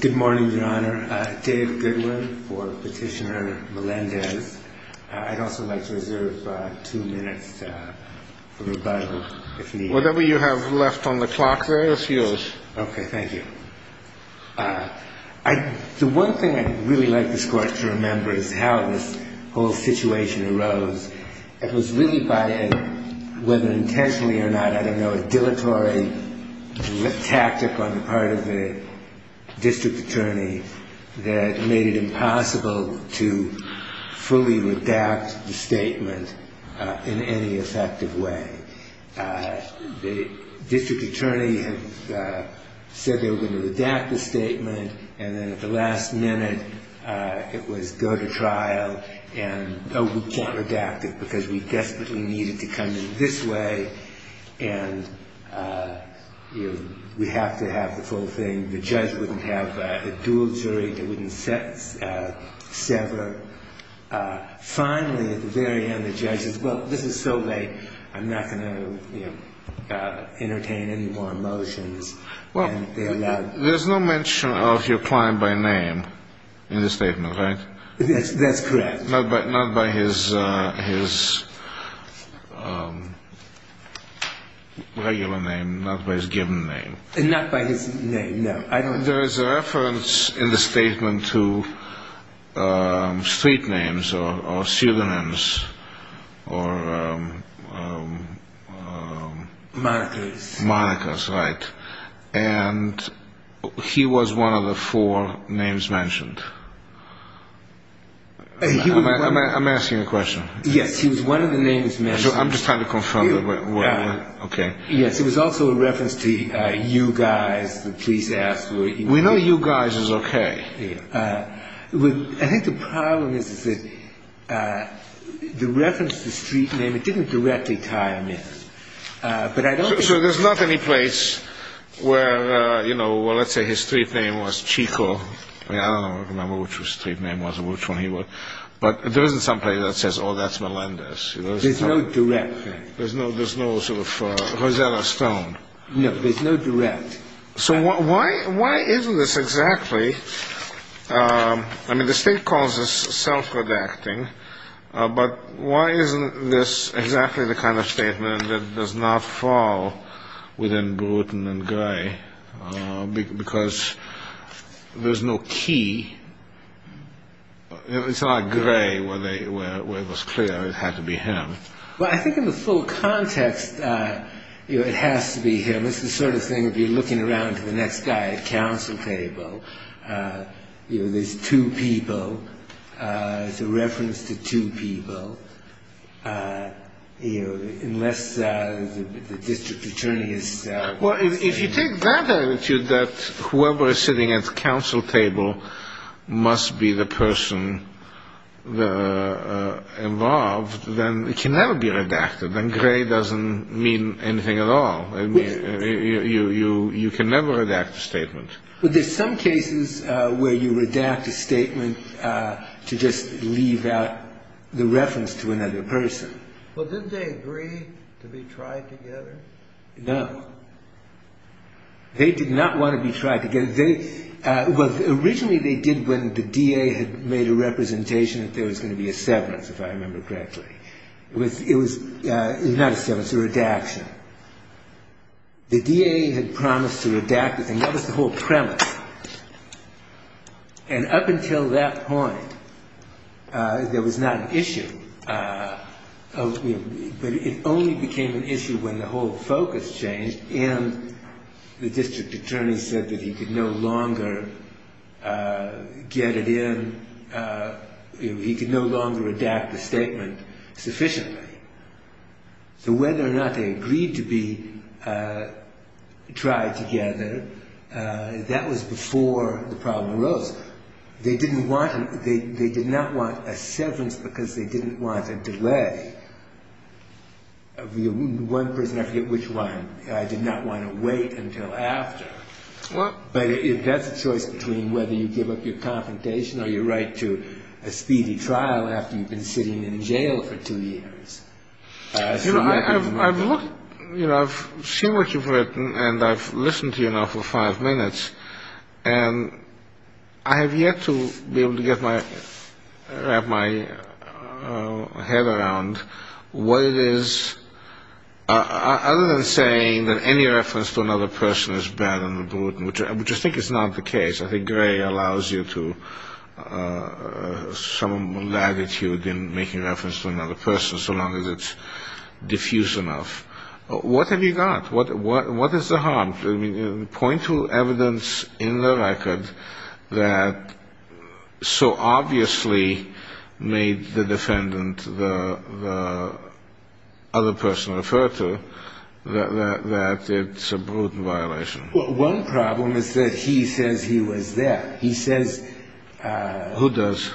Good morning, Your Honor. Dave Goodwin for Petitioner Melendez. I'd also like to reserve two minutes for rebuttal, if need be. Whatever you have left on the clock there is yours. Okay, thank you. The one thing I'd really like this Court to remember is how this whole situation arose. It was really by, whether intentionally or not, I don't know, a dilatory tactic on the part of the district attorney that made it impossible to fully redact the statement in any effective way. The district attorney had said they were going to redact the statement and then at the last minute it was go to trial and, oh, we can't redact it because we desperately needed to come in this way and we have to have the full thing. The judge wouldn't have a dual jury that wouldn't sever. Finally, at the very end, the judge says, well, this is so vague, I'm not going to entertain any more motions. There's no mention of your client by name in the statement, right? That's correct. Not by his regular name, not by his given name. Not by his name, no. There is a reference in the statement to street names or pseudonyms or... Monikers, right. And he was one of the four names mentioned. I'm asking a question. Yes, he was one of the names mentioned. I'm just trying to confirm. Yes, it was also a reference to you guys, the police asked. We know you guys is okay. I think the problem is that the reference to street name, it didn't directly tie him in. So there's not any place where, you know, well, let's say his street name was Chico. I don't remember which his street name was or which one he was. But there isn't someplace that says, oh, that's Melendez. There's no direct thing. There's no sort of Rosetta Stone. No, there's no direct. So why isn't this exactly, I mean, the state calls this self-redacting, but why isn't this exactly the kind of statement that does not fall within Bruton and Gray? Because there's no key. It's not Gray where it was clear it had to be him. Well, I think in the full context, you know, it has to be him. It's the sort of thing, if you're looking around to the next guy at council table, you know, there's two people. It's a reference to two people, you know, unless the district attorney is. Well, if you take that attitude that whoever is sitting at the council table must be the person involved, then it can never be redacted. Then Gray doesn't mean anything at all. You can never redact a statement. But there's some cases where you redact a statement to just leave out the reference to another person. Well, didn't they agree to be tried together? No. They did not want to be tried together. Originally they did when the DA had made a representation that there was going to be a severance, if I remember correctly. It was not a severance, a redaction. The DA had promised to redact the thing. That was the whole premise. And up until that point, there was not an issue, but it only became an issue when the whole focus changed and the district attorney said that he could no longer get it in, he could no longer redact the statement sufficiently. So whether or not they agreed to be tried together, that was before the problem arose. They did not want a severance because they didn't want a delay. One person, I forget which one, I did not want to wait until after. But that's a choice between whether you give up your confrontation or your right to a speedy trial after you've been sitting in jail for two years. You know, I've seen what you've written and I've listened to you now for five minutes and I have yet to be able to wrap my head around what it is, other than saying that any reference to another person is bad and brute, which I think is not the case. I think Gray allows you to some latitude in making reference to another person so long as it's diffuse enough. What have you got? What is the harm? I mean, point to evidence in the record that so obviously made the defendant, the other person referred to, that it's a brute violation. Well, one problem is that he says he was there. He says, who does?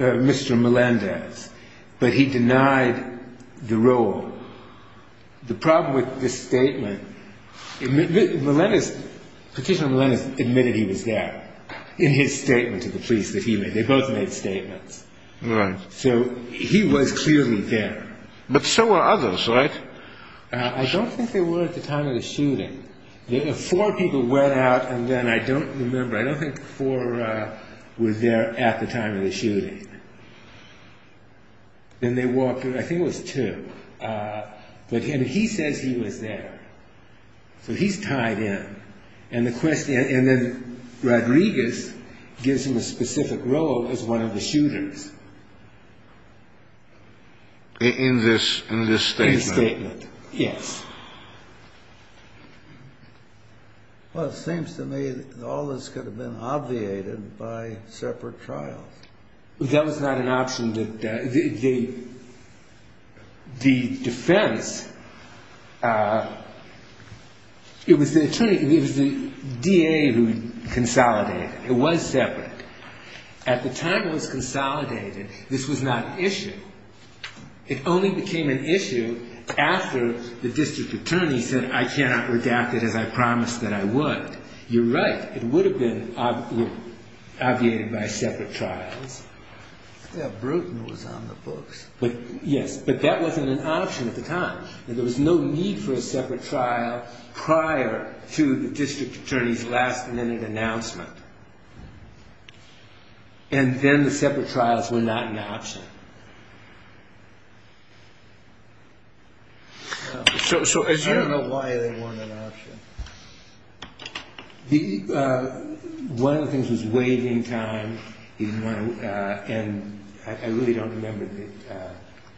Mr. Melendez. But he denied the role. The problem with this statement, petitioner Melendez admitted he was there in his statement to the police that he made. They both made statements. So he was clearly there. But so were others, right? I don't think they were at the time of the shooting. Four people went out and then I don't remember. I don't think four were there at the time of the shooting. Then they walked through. I think it was two. But he says he was there. So he's tied in. And then Rodriguez gives him a specific role as one of the shooters. In this statement? In the statement, yes. Well, it seems to me that all this could have been obviated by separate trials. That was not an option. The defense, it was the attorney, it was the DA who consolidated. It was separate. At the time it was consolidated, this was not an issue. It only became an issue after the district attorney said, I cannot redact it as I promised that I would. You're right. It would have been obviated by separate trials. Bruton was on the books. Yes, but that wasn't an option at the time. There was no need for a separate trial prior to the district attorney's last minute announcement. And then the separate trials were not an option. I don't know why they weren't an option. One of the things was waiving time. And I really don't remember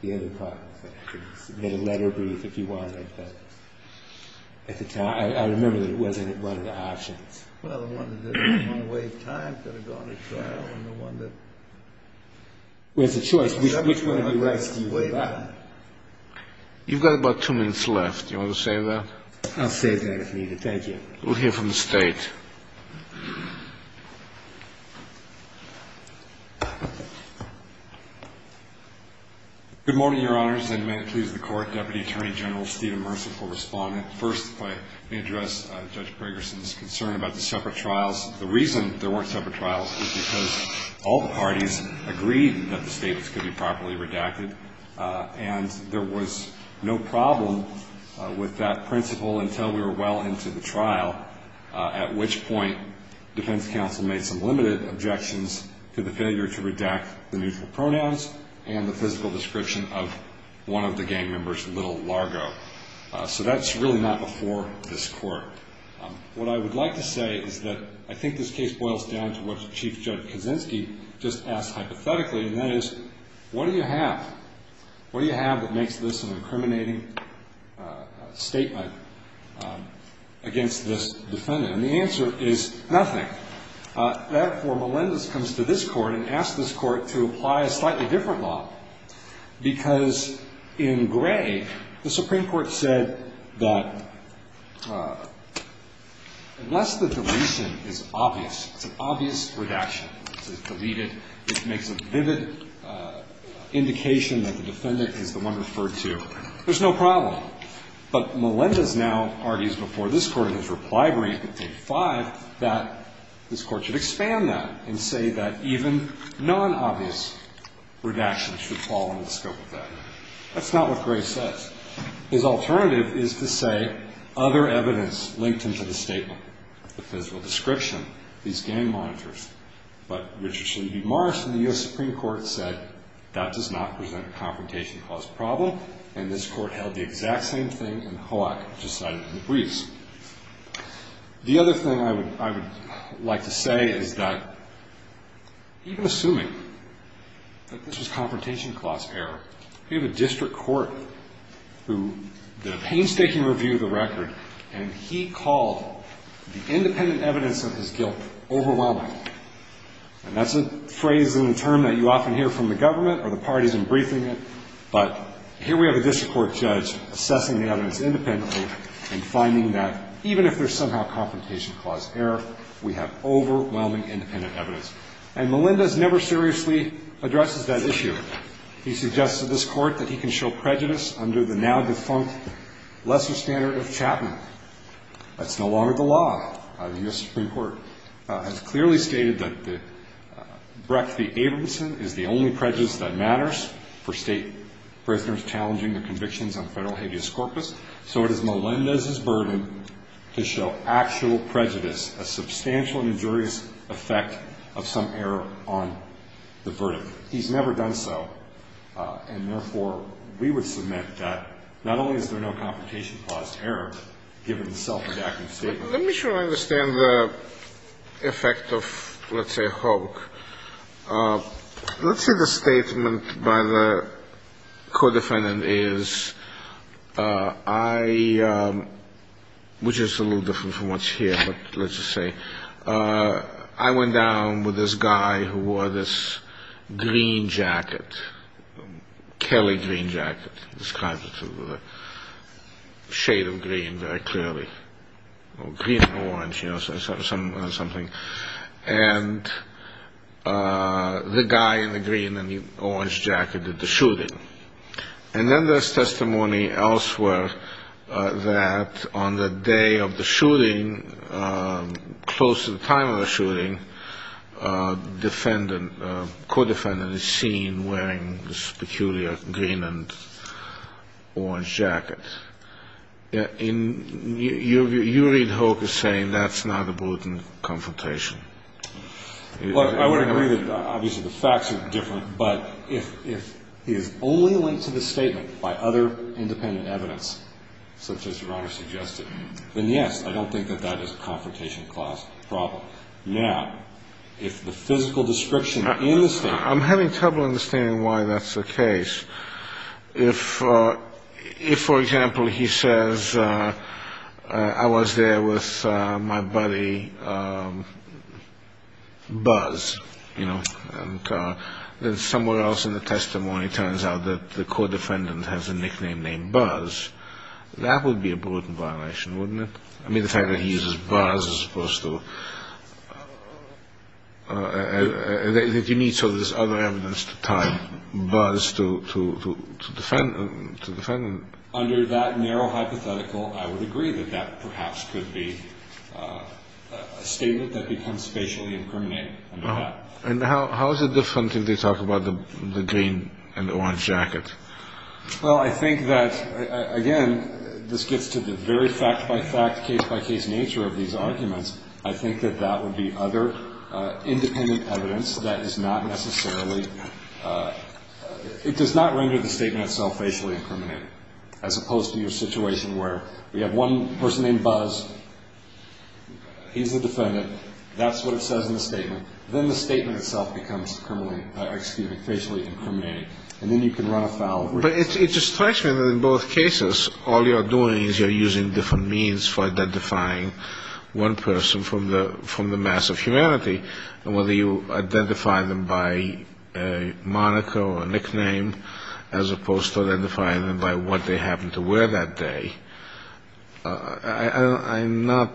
the other part of it. I could have made a letter brief if you wanted. But at the time, I remember that it wasn't one of the options. Well, the one that didn't want to waive time could have gone to trial. And the one that was a choice. Which one of your rights do you waive out? You've got about two minutes left. Do you want to save that? I'll save that if needed. Thank you. We'll hear from the State. Good morning, Your Honors, and may it please the Court, Deputy Attorney General Stephen Mercer for respondent. First, if I may address Judge Briggerson's concern about the separate trials. The reason there weren't separate trials is because all the parties agreed that the statements could be properly redacted. And there was no problem with that principle until we were well into the trial, at which point defense counsel made some limited objections to the failure to redact the neutral pronouns and the physical description of one of the gang members, Little Largo. So that's really not before this Court. What I would like to say is that I think this case boils down to what Chief Judge Kaczynski just asked hypothetically, and that is, what do you have? What do you have that makes this an incriminating statement against this defendant? And the answer is nothing. Therefore, Melendez comes to this Court and asks this Court to apply a slightly different law. Because in Gray, the Supreme Court said that unless the deletion is obvious, it's an obvious redaction, it's deleted, it makes a vivid indication that the defendant is the one referred to, there's no problem. But Melendez now argues before this Court in his reply brief in page 5 that this Court should expand that and say that even non-obvious redaction should fall under the scope of that. That's not what Gray says. His alternative is to say other evidence linked him to the statement, the physical description, these gang monitors. But Richard Sleavy Morris from the U.S. Supreme Court said that does not present a confrontation cause problem, and this Court held the exact same thing in Hawaii, which is cited in the briefs. The other thing I would like to say is that even assuming that this was confrontation cause error, we have a district court who did a painstaking review of the record, and he called the independent evidence of his guilt overwhelming. And that's a phrase and a term that you often hear from the government or the parties in briefing it. But here we have a district court judge assessing the evidence independently and finding that even if there's somehow confrontation cause error, we have overwhelming independent evidence. And Melendez never seriously addresses that issue. He suggests to this Court that he can show prejudice under the now-defunct lesser standard of Chapman. That's no longer the law. The U.S. Supreme Court has clearly stated that the Brecht v. Abramson is the only prejudice that matters for State prisoners challenging their convictions on federal habeas corpus. So it is Melendez's burden to show actual prejudice, a substantial injurious effect of some error on the verdict. He's never done so, and therefore, we would submit that not only is there no confrontation cause error given the self-indacting statement. Let me try to understand the effect of, let's say, Hogue. Let's say the statement by the co-defendant is, which is a little different from what's here, but let's just say, I went down with this guy who wore this green jacket, Kelly green jacket. It describes the shade of green very clearly. Green and orange, you know, something. And the guy in the green and the orange jacket did the shooting. And then there's testimony elsewhere that on the day of the shooting, close to the time of the shooting, defendant, co-defendant is seen wearing this peculiar green and orange jacket. You read Hogue as saying that's not a bulletin confrontation. Well, I would agree that obviously the facts are different. But if he is only linked to the statement by other independent evidence, such as Your Honor suggested, then yes, I don't think that that is a confrontation clause problem. Now, if the physical description in the statement. I'm having trouble understanding why that's the case. If, for example, he says I was there with my buddy Buzz, you know, and then somewhere else in the testimony it turns out that the co-defendant has a nickname named Buzz, that would be a bulletin violation, wouldn't it? I mean, the fact that he uses Buzz is supposed to. I think you need some of this other evidence to tie Buzz to the defendant. Under that narrow hypothetical, I would agree that that perhaps could be a statement that becomes spatially incriminating. And how is it different if they talk about the green and the orange jacket? Well, I think that, again, this gets to the very fact-by-fact, case-by-case nature of these arguments. I think that that would be other independent evidence that is not necessarily. It does not render the statement itself facially incriminating, as opposed to your situation where we have one person named Buzz. He's the defendant. That's what it says in the statement. Then the statement itself becomes criminally, excuse me, facially incriminating. And then you can run afoul. But it strikes me that in both cases all you're doing is you're using different means for identifying one person from the mass of humanity, and whether you identify them by a moniker or a nickname, as opposed to identifying them by what they happen to wear that day. I'm not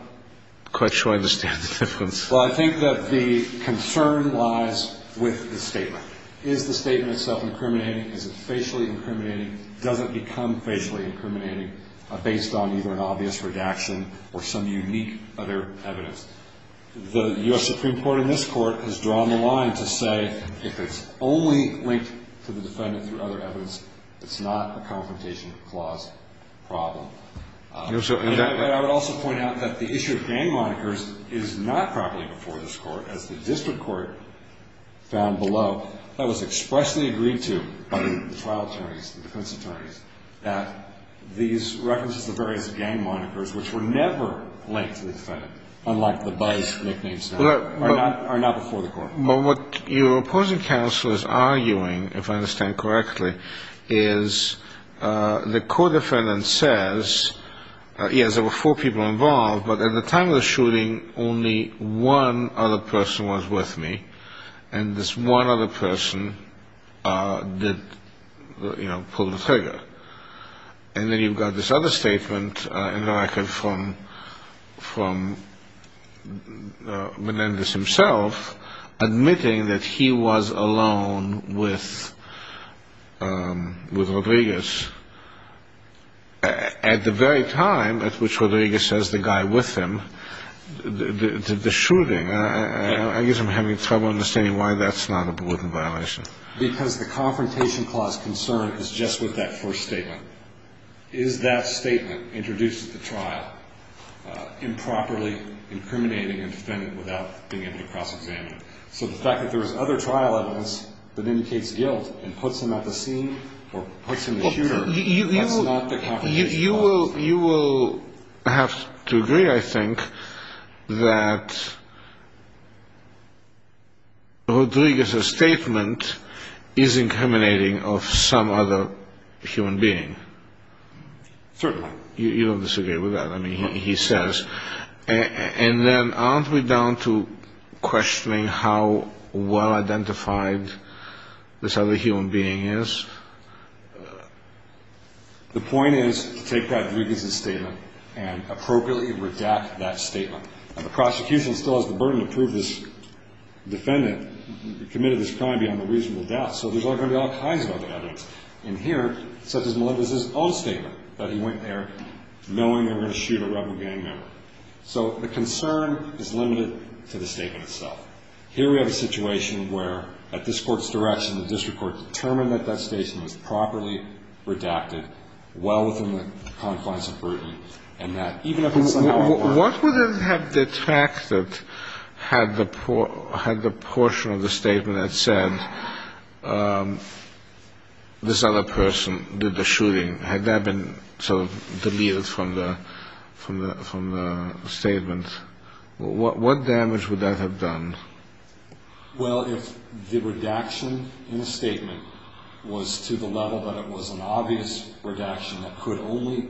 quite sure I understand the difference. Is the statement itself incriminating? Is it facially incriminating? Does it become facially incriminating based on either an obvious redaction or some unique other evidence? The U.S. Supreme Court in this court has drawn the line to say if it's only linked to the defendant through other evidence, it's not a confrontation clause problem. I would also point out that the issue of gang monikers is not properly before this court, as the district court found below. That was expressly agreed to by the trial attorneys, the defense attorneys, that these references to various gang monikers, which were never linked to the defendant, unlike the buzz, nicknames, are not before the court. Well, what your opposing counsel is arguing, if I understand correctly, is the court defendant says, yes, there were four people involved, but at the time of the shooting, only one other person was with me, and this one other person pulled the trigger. And then you've got this other statement in the record from Menendez himself, admitting that he was alone with Rodriguez. At the very time at which Rodriguez has the guy with him, the shooting, I guess I'm having trouble understanding why that's not a burden violation. Because the confrontation clause concern is just with that first statement. Is that statement introduced at the trial improperly incriminating a defendant without being able to cross-examine him? So the fact that there is other trial evidence that indicates guilt and puts him at the scene or puts him at the shooter, that's not the confrontation clause. You will have to agree, I think, that Rodriguez's statement is incriminating of some other human being. Certainly. You don't disagree with that. I mean, he says. And then aren't we down to questioning how well-identified this other human being is? The point is to take that Rodriguez's statement and appropriately redact that statement. Now, the prosecution still has the burden to prove this defendant committed this crime beyond a reasonable doubt. So there's going to be all kinds of other evidence in here, such as Menendez's own statement, that he went there knowing they were going to shoot a rebel gang member. So the concern is limited to the statement itself. Here we have a situation where, at this Court's direction, the district court determined that that statement was properly redacted well within the confines of burden, and that even if it's somehow improper. What would have detracted had the portion of the statement that said this other person did the shooting, had that been sort of deleted from the statement? What damage would that have done? Well, if the redaction in the statement was to the level that it was an obvious redaction that could only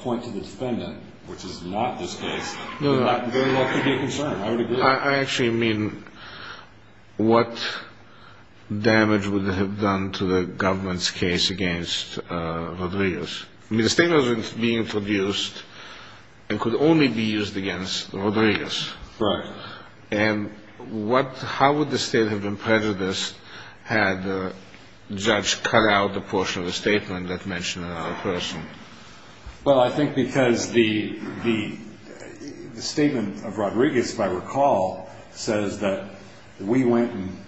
point to the defendant, which is not this case, then that very well could be a concern. I would agree. I actually mean what damage would it have done to the government's case against Rodriguez. I mean, the statement was being introduced and could only be used against Rodriguez. Right. And how would the state have been prejudiced had the judge cut out the portion of the statement that mentioned another person? Well, I think because the statement of Rodriguez, if I recall, says that we went and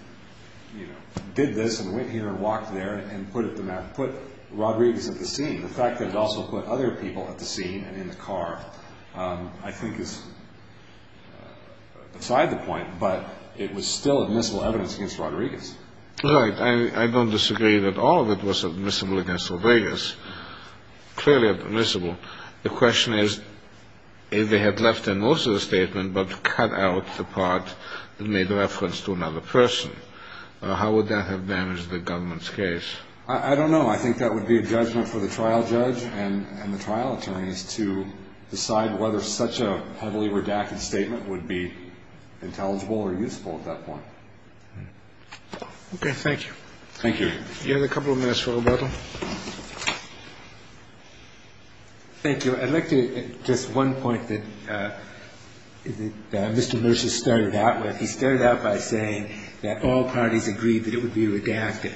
did this and went here and walked there and put Rodriguez at the scene. The fact that it also put other people at the scene and in the car I think is beside the point, but it was still admissible evidence against Rodriguez. Right. I don't disagree that all of it was admissible against Rodriguez. Clearly admissible. The question is if they had left in also the statement but cut out the part that made reference to another person, how would that have damaged the government's case? I don't know. I think that would be a judgment for the trial judge and the trial attorneys to decide whether such a heavily redacted statement would be intelligible or useful at that point. Okay. Thank you. Thank you. You have a couple of minutes, Mr. Roberto. Thank you. I'd like to just one point that Mr. Mercer started out with. He started out by saying that all parties agreed that it would be redacted.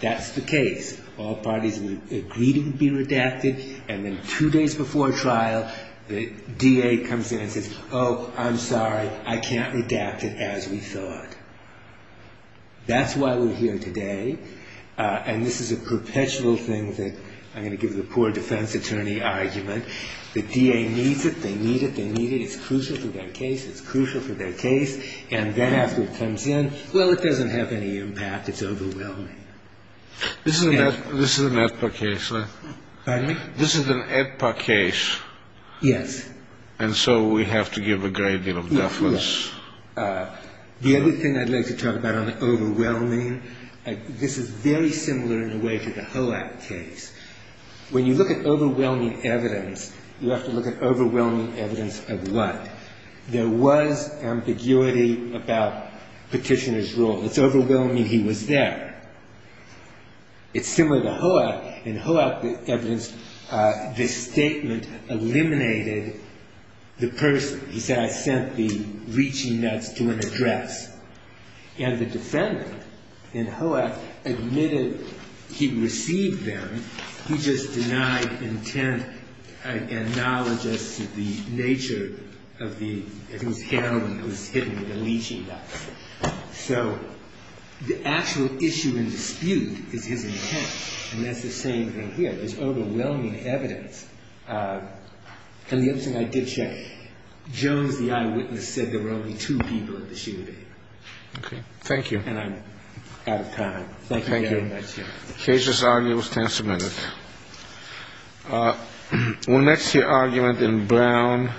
That's the case. All parties agreed it would be redacted. And then two days before trial, the DA comes in and says, oh, I'm sorry, I can't redact it as we thought. That's why we're here today. And this is a perpetual thing that I'm going to give the poor defense attorney argument. The DA needs it. They need it. They need it. It's crucial for their case. It's crucial for their case. And then after it comes in, well, it doesn't have any impact. It's overwhelming. This is an AEDPA case, right? Pardon me? This is an AEDPA case. Yes. And so we have to give a great deal of deference. Yes. The other thing I'd like to talk about on overwhelming, this is very similar in a way to the HOAC case. When you look at overwhelming evidence, you have to look at overwhelming evidence of what? There was ambiguity about Petitioner's rule. It's overwhelming he was there. It's similar to HOAC. In HOAC, the evidence, this statement eliminated the person. He said, I sent the leeching nuts to an address. And the defendant in HOAC admitted he received them. He just denied intent and knowledge as to the nature of the, of his handling of the leeching nuts. So the actual issue and dispute is his intent. And that's the same thing here. There's overwhelming evidence. And the other thing I did check, Jones, the eyewitness, said there were only two people at the shooting. Okay. Thank you. And I'm out of time. Thank you very much. Thank you. The case's argument stands submitted. We'll next hear argument in Brown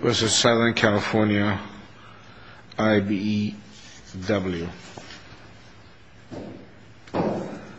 v. Southern California, IBEW.